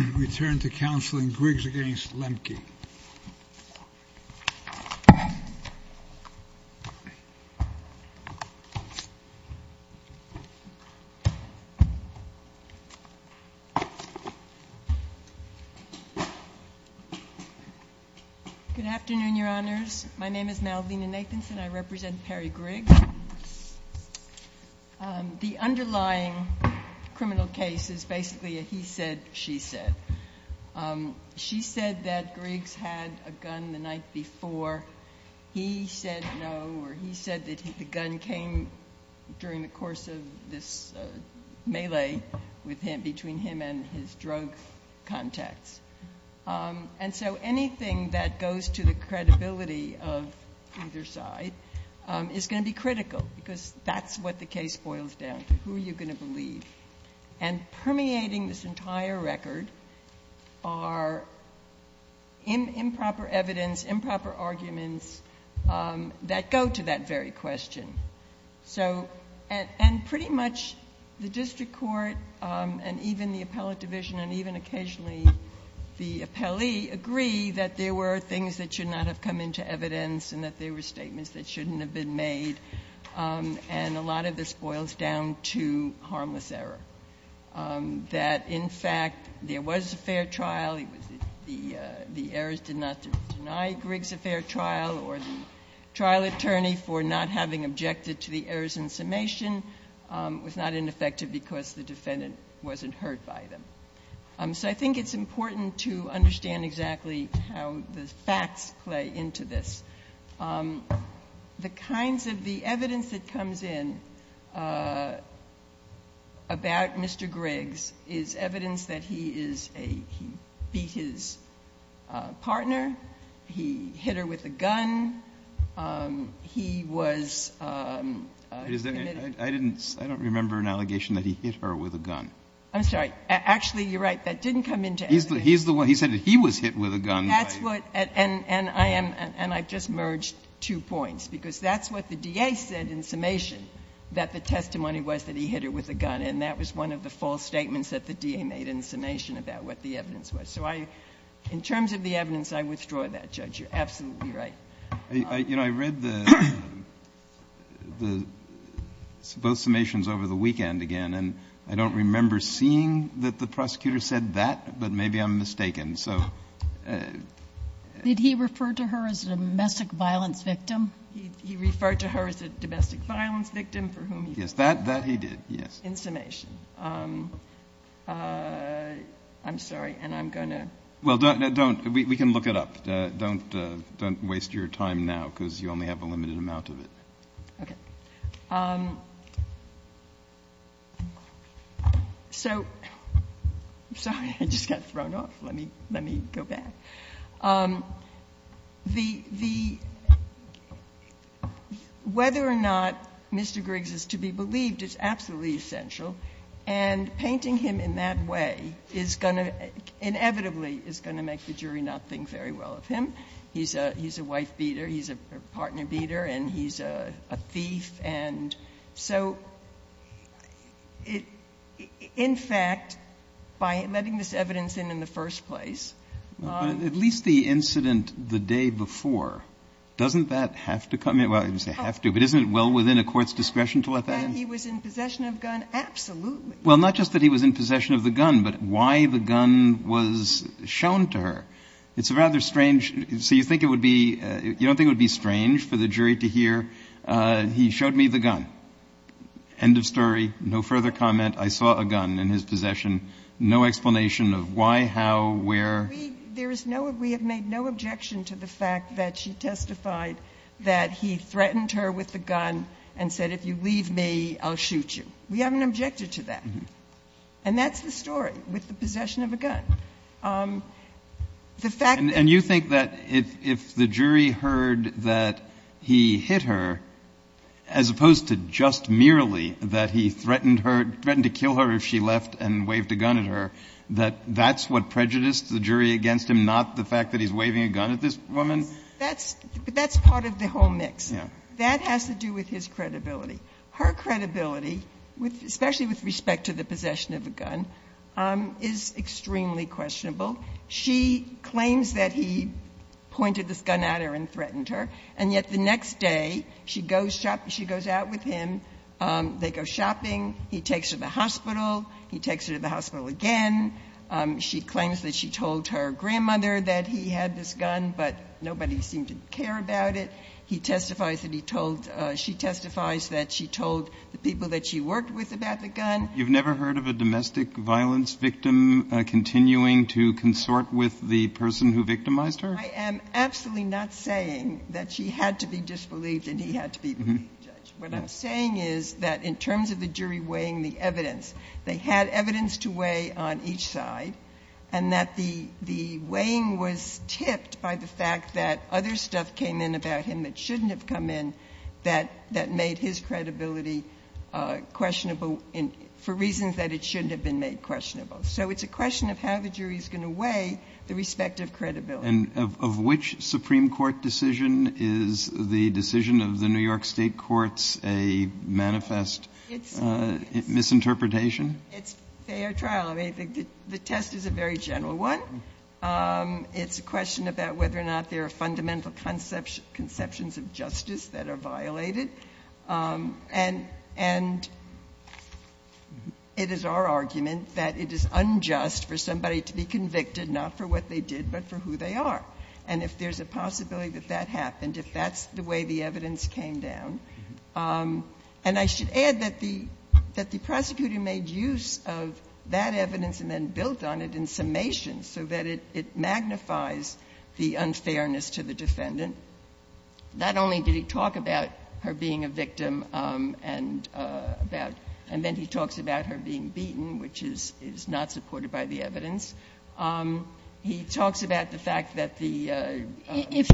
Good afternoon, Your Honors. My name is Malvina Nathanson. I represent Perry Griggs. The underlying criminal case is basically a he said, she said. She said that Griggs had a gun the night before. He said no, or he said that the gun came during the course of this melee between him and his drug contacts. And so anything that goes to the credibility of either side is going to be critical because that's what the case boils down to. Who are you going to believe? And permeating this entire record are improper evidence, improper arguments that go to that very question. And pretty much the district court and even the appellate division and even occasionally the appellee agree that there were things that should not have come into evidence and that there were statements that shouldn't have been made. And a lot of this boils down to harmless error. That in fact there was a fair trial. The errors did not deny Griggs a fair trial or the trial attorney for not having objected to the errors in summation was not ineffective because the defendant wasn't hurt by them. So I think it's important to understand exactly how the facts play into this. The kinds of the evidence that comes in about Mr. Griggs is evidence that he is a, he beat his partner, he hit her with a gun, he was committed. I don't remember an allegation that he hit her with a gun. I'm sorry. Actually, you're right. That didn't come into evidence. He's the one, he said that he was hit with a gun. That's what, and I am, and I've just merged two points because that's what the DA said in summation, that the testimony was that he hit her with a gun. And that was one of the false statements that the DA made in summation about what the evidence was. So I, in terms of the evidence, I withdraw that, Judge. You're absolutely right. I, you know, I read the, the, both summations over the weekend again, and I don't remember seeing that the prosecutor said that, but maybe I'm mistaken. So. Did he refer to her as a domestic violence victim? He referred to her as a domestic violence victim for whom he. Yes, that, that he did. Yes. In summation. I'm sorry, and I'm going to. Well, don't, we can look it up. Don't, don't waste your time now because you only have a limited amount of it. Okay. So, sorry, I just got thrown off. Let me, let me go back. The, the, whether or not Mr. Griggs is to be believed is absolutely essential. And painting him in that way is going to inevitably is going to make the jury not think very well of him. He's a, he's a wife beater, he's a partner beater, and he's a, a thief. And so it, in fact, by letting this evidence in in the first place. But at least the incident the day before, doesn't that have to come in? Well, I didn't say have to, but isn't it well within a court's discretion to let that in? Well, not just that he was in possession of the gun, but why the gun was shown to her. It's a rather strange, so you think it would be, you don't think it would be strange for the jury to hear, he showed me the gun. End of story. No further comment. I saw a gun in his possession. No explanation of why, how, where. There is no, we have made no objection to the fact that she testified that he threatened her with the gun and said if you leave me, I'll shoot you. We haven't objected to that. And that's the story with the possession of a gun. The fact that. And you think that if, if the jury heard that he hit her, as opposed to just merely that he threatened her, threatened to kill her if she left and waved a gun at her, that that's what prejudiced the jury against him, not the fact that he's waving a gun at this woman? That's, that's part of the whole mix. That has to do with his credibility. Her credibility, especially with respect to the possession of a gun, is extremely questionable. She claims that he pointed this gun at her and threatened her, and yet the next day she goes out with him. They go shopping. He takes her to the hospital. He takes her to the hospital again. She claims that she told her grandmother that he had this gun, but nobody seemed to care about it. He testifies that he told, she testifies that she told the people that she worked with about the gun. You've never heard of a domestic violence victim continuing to consort with the person who victimized her? I am absolutely not saying that she had to be disbelieved and he had to be the main judge. What I'm saying is that in terms of the jury weighing the evidence, they had evidence to weigh on each side, and that the, the weighing was tipped by the fact that other stuff came in about him that shouldn't have come in that, that made his credibility questionable for reasons that it shouldn't have been made questionable. So it's a question of how the jury is going to weigh the respective credibility. And of which Supreme Court decision is the decision of the New York State courts a manifest misinterpretation? It's fair trial. I mean, the test is a very general one. It's a question about whether or not there are fundamental conceptions of justice that are violated. And, and it is our argument that it is unjust for somebody to be convicted not for what they did, but for who they are. And if there's a possibility that that happened, if that's the way the evidence came down. And I should add that the, that the prosecutor made use of that evidence and then built on it in summation so that it, it magnifies the unfairness to the defendant. Not only did he talk about her being a victim and about, and then he talks about her being beaten, which is, is not supported by the evidence. He talks about the fact that the. If,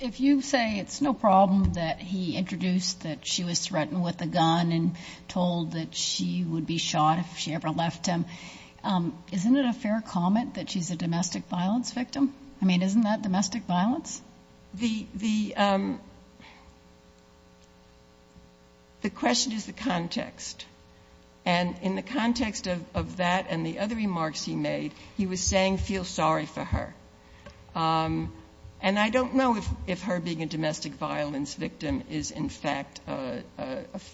if you say it's no problem that he introduced that she was threatened with a gun and told that she would be shot if she ever left him. Isn't it a fair comment that she's a domestic violence victim? I mean, isn't that domestic violence? The, the, the question is the context and in the context of, of that and the other remarks he made, he was saying, feel sorry for her. And I don't know if, if her being a domestic violence victim is in fact a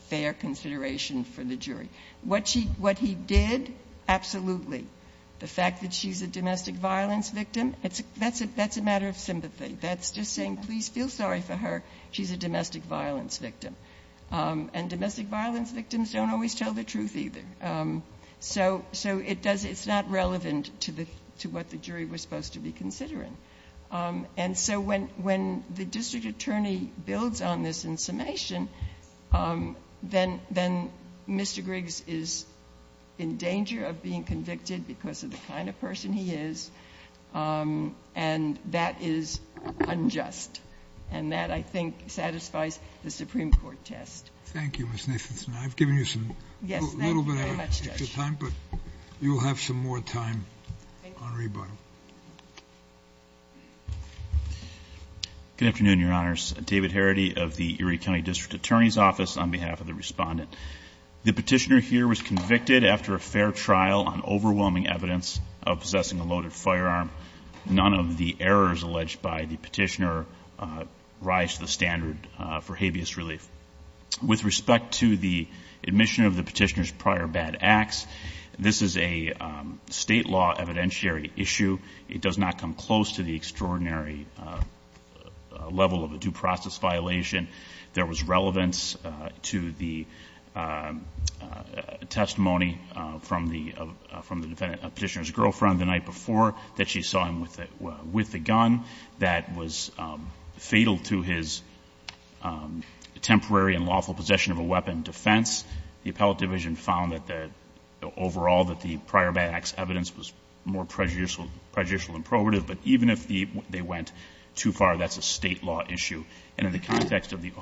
fair consideration for the jury. What she, what he did, absolutely. The fact that she's a domestic violence victim, it's, that's a, that's a matter of sympathy. That's just saying, please feel sorry for her. She's a domestic violence victim. And domestic violence victims don't always tell the truth either. So, so it does, it's not relevant to the, to what the jury was supposed to be considering. And so when, when the district attorney builds on this in summation, then, then Mr. Griggs is in danger of being convicted because of the kind of person he is. And that is unjust. And that I think satisfies the Supreme Court test. Thank you, Ms. Nathanson. I've given you some, a little bit of extra time, but you will have some more time on rebuttal. Good afternoon, Your Honors. David Harady of the Erie County District Attorney's Office on behalf of the respondent. The petitioner here was convicted after a fair trial on overwhelming evidence of possessing a loaded firearm. None of the errors alleged by the petitioner rise to the standard for habeas relief. With respect to the admission of the petitioner's prior bad acts, this is a state law evidentiary issue. It does not come close to the extraordinary level of a due process violation. There was relevance to the testimony from the, from the defendant, petitioner's girlfriend the night before that she saw him with, with the gun that was fatal to his temporary and lawful possession of a weapon defense. The appellate division found that the, overall that the prior bad acts evidence was more prejudicial, prejudicial than prohibitive. But even if they went too far, that's a state law issue. And in the context of the,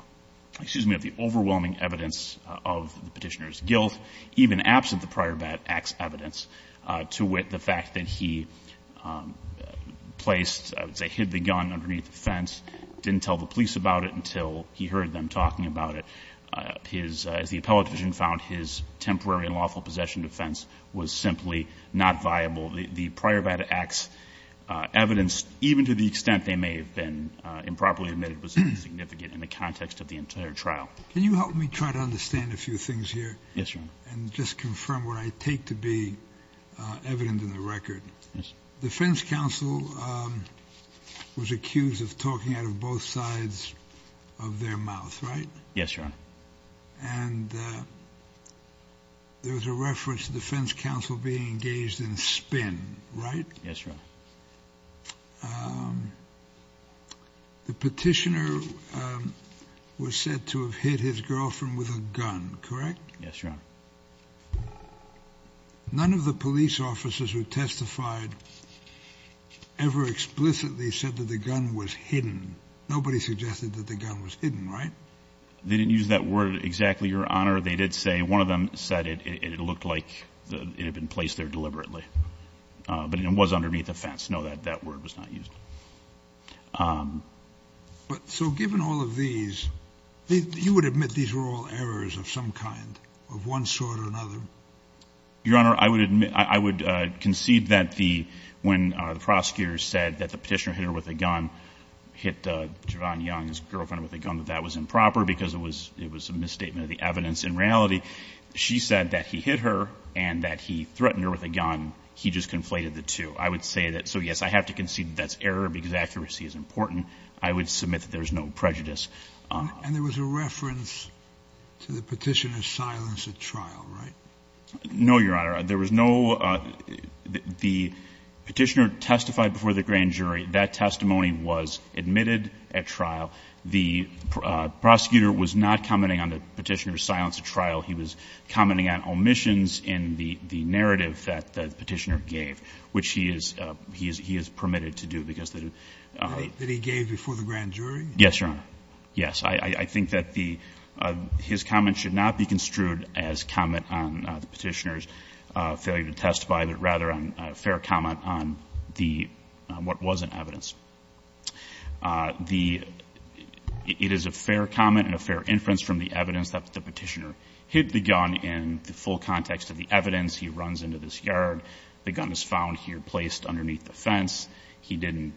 excuse me, of the overwhelming evidence of the petitioner's guilt, even absent the prior bad acts evidence, to wit, the fact that he placed, I would say hid the gun underneath the fence, didn't tell the police about it until he heard them talking about it, his, as the appellate division found, his temporary and lawful possession defense was simply not viable. The prior bad acts evidence, even to the extent they may have been improperly admitted, was insignificant in the context of the entire trial. Can you help me try to understand a few things here? Yes, Your Honor. And just confirm what I take to be evident in the record. Yes. Defense counsel was accused of talking out of both sides of their mouth, right? Yes, Your Honor. And there was a reference to defense counsel being engaged in spin, right? Yes, Your Honor. The petitioner was said to have hit his girlfriend with a gun, correct? Yes, Your Honor. None of the police officers who testified ever explicitly said that the gun was hidden. Nobody suggested that the gun was hidden, right? They didn't use that word exactly, Your Honor. They did say one of them said it looked like it had been placed there deliberately, but it was underneath the fence. No, that word was not used. But so given all of these, you would admit these were all errors of some kind, of one sort or another? Your Honor, I would concede that when the prosecutor said that the petitioner hit her with a gun, hit Javon Young's girlfriend with a gun, that that was improper because it was a misstatement of the evidence. In reality, she said that he hit her and that he threatened her with a gun. He just conflated the two. I would say that so, yes, I have to concede that that's error because accuracy is important. I would submit that there is no prejudice. And there was a reference to the petitioner's silence at trial, right? No, Your Honor. There was no ‑‑ the petitioner testified before the grand jury. That testimony was admitted at trial. The prosecutor was not commenting on the petitioner's silence at trial. He was commenting on omissions in the narrative that the petitioner gave, which he is permitted to do because ‑‑ That he gave before the grand jury? Yes, Your Honor. Yes. I think that the ‑‑ his comment should not be construed as comment on the petitioner's failure to testify, but rather a fair comment on the ‑‑ on what was in evidence. The ‑‑ it is a fair comment and a fair inference from the evidence that the petitioner hit the gun in the full context of the evidence. He runs into this yard. The gun is found here placed underneath the fence. He didn't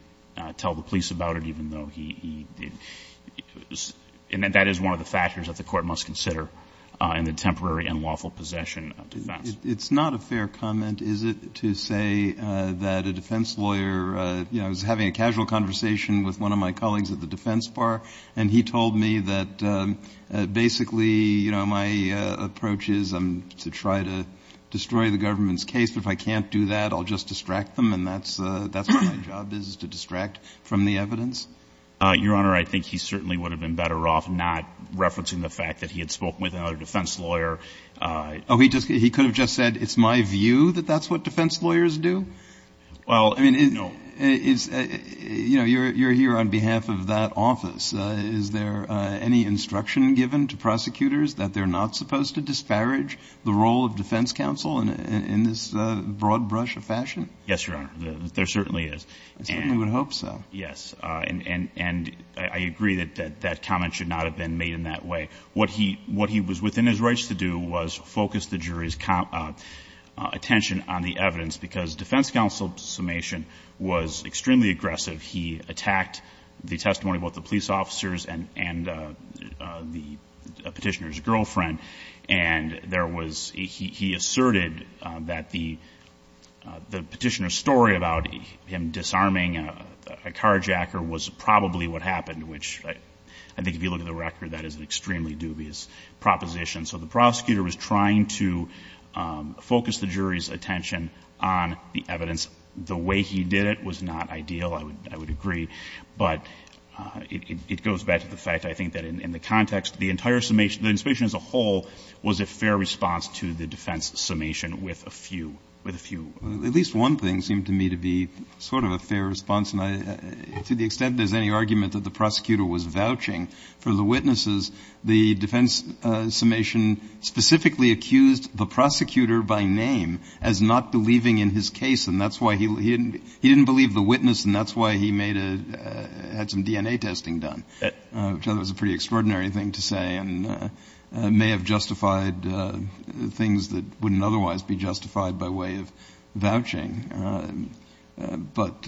tell the police about it, even though he ‑‑ and that is one of the factors that the court must consider in the temporary and lawful possession of defense. It's not a fair comment, is it, to say that a defense lawyer, you know, I was having a casual conversation with one of my colleagues at the defense bar, and he told me that basically, you know, my approach is to try to destroy the government's case, but if I can't do that, I'll just distract them, and that's what my job is, is to distract from the evidence? Your Honor, I think he certainly would have been better off not referencing the fact that he had spoken with another defense lawyer. Oh, he could have just said, it's my view that that's what defense lawyers do? Well, no. You know, you're here on behalf of that office. Is there any instruction given to prosecutors that they're not supposed to disparage the role of defense counsel in this broad brush of fashion? Yes, Your Honor, there certainly is. I certainly would hope so. Yes, and I agree that that comment should not have been made in that way. What he was within his rights to do was focus the jury's attention on the evidence because defense counsel Summation was extremely aggressive. He attacked the testimony of both the police officers and the petitioner's girlfriend, and there was he asserted that the petitioner's story about him disarming a carjacker was probably what happened, which I think if you look at the record, that is an extremely dubious proposition. So the prosecutor was trying to focus the jury's attention on the evidence. The way he did it was not ideal, I would agree, but it goes back to the fact, I think, that in the context, the entire summation, the inspection as a whole was a fair response to the defense summation with a few, with a few. At least one thing seemed to me to be sort of a fair response, and to the extent there's any argument that the prosecutor was vouching for the witnesses, the defense summation specifically accused the prosecutor by name as not believing in his case, and that's why he didn't believe the witness and that's why he made a, had some DNA testing done, which I thought was a pretty extraordinary thing to say and may have justified things that wouldn't otherwise be justified by way of vouching. But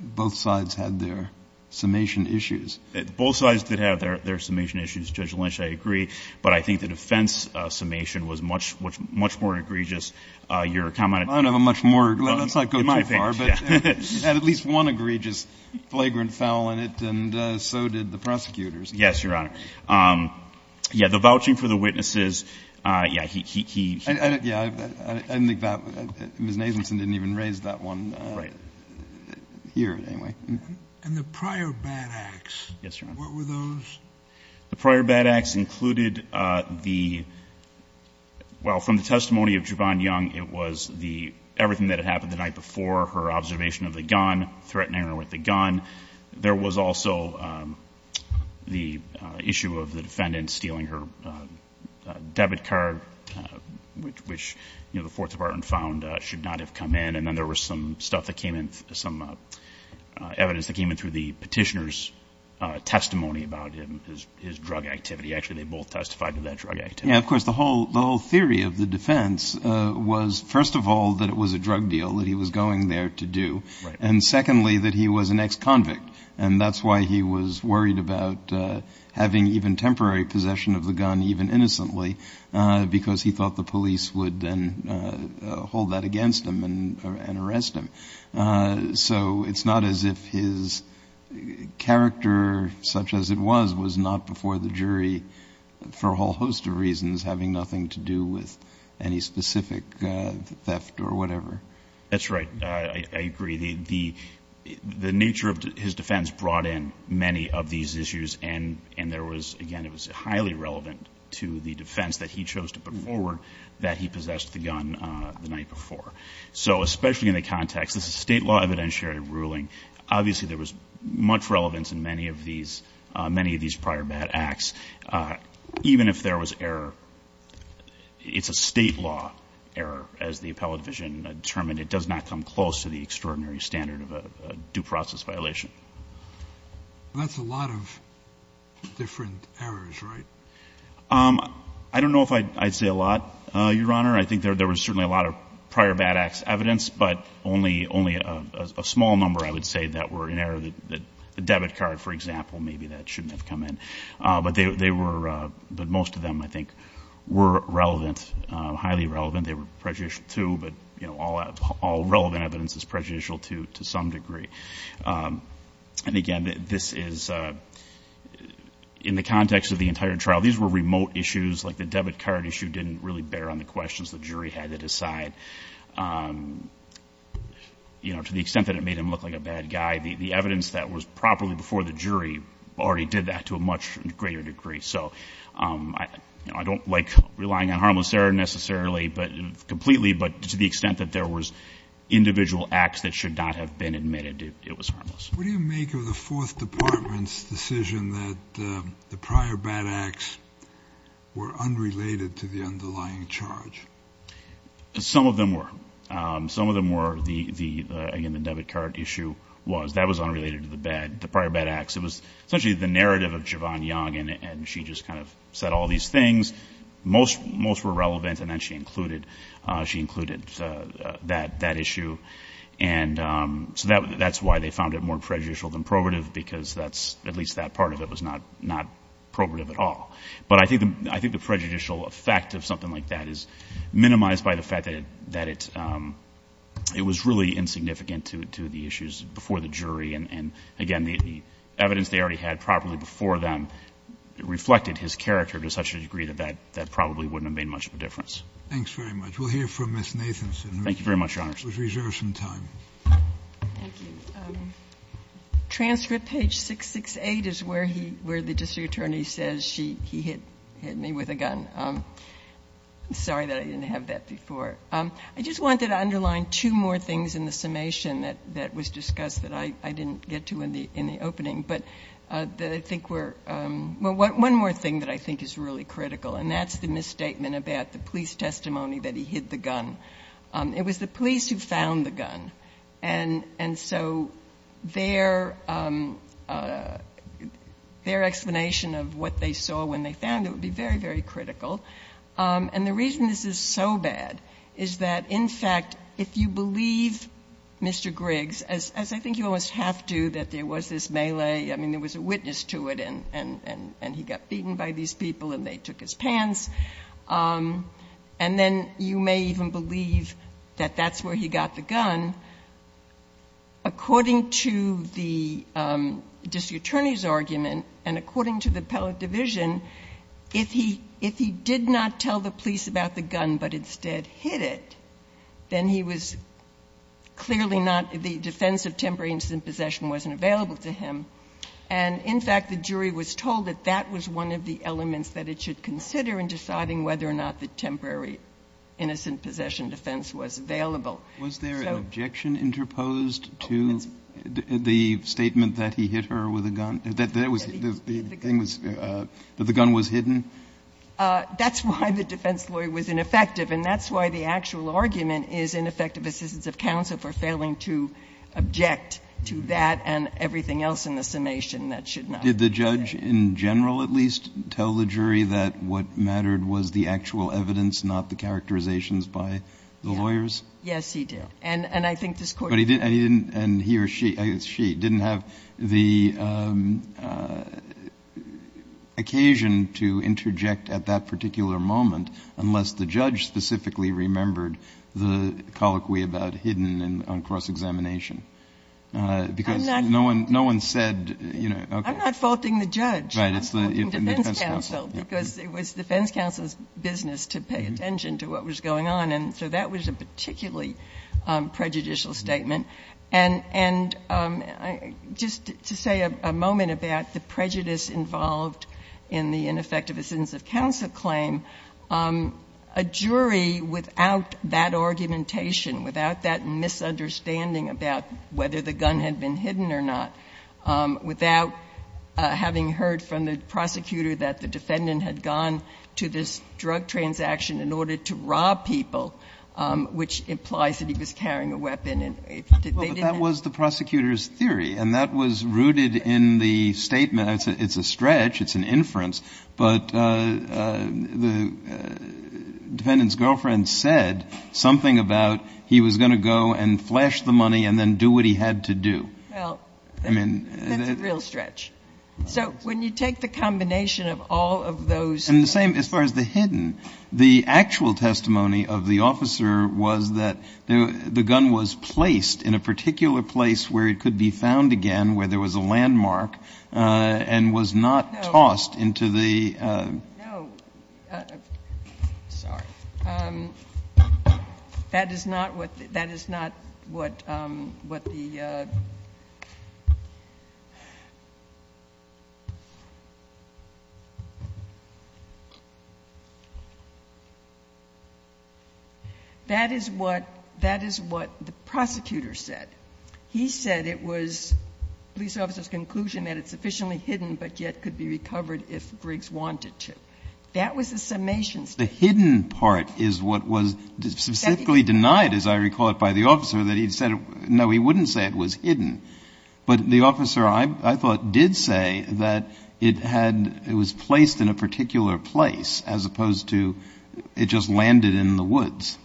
both sides had their summation issues. Both sides did have their summation issues. Judge Lynch, I agree. But I think the defense summation was much, much more egregious. I don't have a much more, let's not go too far, but it had at least one egregious flagrant foul in it, and so did the prosecutors. Yes, Your Honor. Yeah, the vouching for the witnesses, yeah, he, he, he, he. I don't, yeah, I didn't think that, Ms. Nathanson didn't even raise that one. Right. Here, anyway. And the prior bad acts. Yes, Your Honor. What were those? The prior bad acts included the, well, from the testimony of Jevon Young, it was the, everything that had happened the night before, her observation of the gun, threatening her with the gun. There was also the issue of the defendant stealing her debit card, which, you know, the Fourth Department found should not have come in. And then there was some stuff that came in, some evidence that came in through the petitioner's testimony about his drug activity. Actually, they both testified to that drug activity. Yeah, of course, the whole, the whole theory of the defense was, first of all, that it was a drug deal that he was going there to do. Right. And secondly, that he was an ex-convict, and that's why he was worried about having even temporary possession of the gun, even innocently, because he thought the police would then hold that against him and arrest him. So it's not as if his character, such as it was, was not before the jury for a whole host of reasons having nothing to do with any specific theft or whatever. That's right. I agree. The nature of his defense brought in many of these issues, and there was, again, it was highly relevant to the defense that he chose to put forward, that he possessed the gun the night before. So especially in the context, this is a state law evidentiary ruling, obviously there was much relevance in many of these prior bad acts, even if there was error. It's a state law error, as the appellate division determined. It does not come close to the extraordinary standard of a due process violation. That's a lot of different errors, right? I don't know if I'd say a lot, Your Honor. I think there was certainly a lot of prior bad acts evidence, but only a small number, I would say, that were in error. The debit card, for example, maybe that shouldn't have come in. But most of them, I think, were relevant, highly relevant. They were prejudicial, too, but all relevant evidence is prejudicial, too, to some degree. And, again, this is in the context of the entire trial. These were remote issues, like the debit card issue didn't really bear on the questions the jury had to decide. To the extent that it made him look like a bad guy, the evidence that was properly before the jury already did that to a much greater degree. So I don't like relying on harmless error necessarily, completely, but to the extent that there was individual acts that should not have been admitted, it was harmless. What do you make of the Fourth Department's decision that the prior bad acts were unrelated to the underlying charge? Some of them were. Again, the debit card issue was. That was unrelated to the prior bad acts. It was essentially the narrative of Jevon Young, and she just kind of said all these things. Most were relevant, and then she included that issue. And so that's why they found it more prejudicial than probative, because at least that part of it was not probative at all. But I think the prejudicial effect of something like that is minimized by the fact that it was really insignificant to the issues before the jury. And, again, the evidence they already had properly before them reflected his character to such a degree that that probably wouldn't have made much of a difference. Thanks very much. We'll hear from Ms. Nathanson. Thank you very much, Your Honor. Let's reserve some time. Thank you. Transcript page 668 is where the district attorney says he hit me with a gun. I'm sorry that I didn't have that before. I just wanted to underline two more things in the summation that was discussed that I didn't get to in the opening. One more thing that I think is really critical, and that's the misstatement about the police testimony that he hid the gun. It was the police who found the gun. And so their explanation of what they saw when they found it would be very, very critical. And the reason this is so bad is that, in fact, if you believe Mr. Griggs, as I think you almost have to, that there was this melee. I mean, there was a witness to it, and he got beaten by these people and they took his pants. And then you may even believe that that's where he got the gun. According to the district attorney's argument and according to the appellate division, if he did not tell the police about the gun but instead hid it, then he was clearly not the defense of temporary incident possession wasn't available to him. And, in fact, the jury was told that that was one of the elements that it should consider in deciding whether or not the temporary innocent possession defense was available. So. Kennedy, was there an objection interposed to the statement that he hit her with a gun? That the gun was hidden? That's why the defense lawyer was ineffective, and that's why the actual argument is ineffective assistance of counsel for failing to object to that and everything else in the summation that should not have been said. Did the judge in general at least tell the jury that what mattered was the actual evidence, not the characterizations by the lawyers? Yes, he did. And I think this Court did. But he didn't, and he or she, she didn't have the occasion to interject at that particular moment unless the judge specifically remembered the colloquy about hidden on cross examination. Because no one said, you know, okay. I'm not faulting the judge. Right. It's the defense counsel. Because it was defense counsel's business to pay attention to what was going on. And so that was a particularly prejudicial statement. And just to say a moment about the prejudice involved in the ineffective assistance of counsel claim, a jury without that argumentation, without that misunderstanding about whether the gun had been hidden or not, without having heard from the prosecutor that the defendant had gone to this drug transaction in order to rob people, which implies that he was carrying a weapon. But that was the prosecutor's theory, and that was rooted in the statement. It's a stretch. It's an inference. But the defendant's girlfriend said something about he was going to go and flash the money and then do what he had to do. Well, that's a real stretch. So when you take the combination of all of those. And the same as far as the hidden. The actual testimony of the officer was that the gun was placed in a particular place where it could be found again, where there was a landmark, and was not tossed into the. No. Sorry. That is not what the. That is what the prosecutor said. He said it was police officer's conclusion that it's sufficiently hidden but yet could be recovered if Griggs wanted to. That was the summation statement. The hidden part is what was specifically denied, as I recall it, by the officer, that he said no, he wouldn't say it was hidden. But the officer, I thought, did say that it had, it was placed in a particular place as opposed to it just landed in the woods.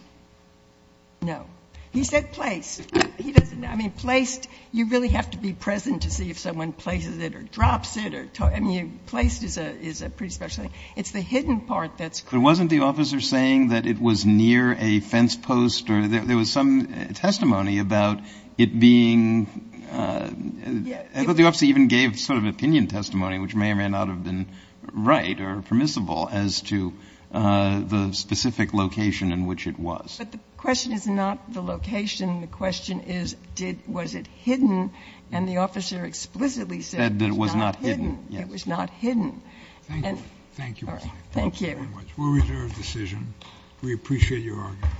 No. He said place. He doesn't know. I mean, placed, you really have to be present to see if someone places it or drops it or, I mean, placed is a pretty special thing. It's the hidden part that's. But wasn't the officer saying that it was near a fence post or there was some testimony about it being, I thought the officer even gave sort of opinion testimony, which may or may not have been right or permissible as to the specific location in which it was. But the question is not the location. The question is did, was it hidden? And the officer explicitly said it was not hidden. It was not hidden. Thank you. Thank you. Thank you. We'll reserve the decision. We appreciate your argument.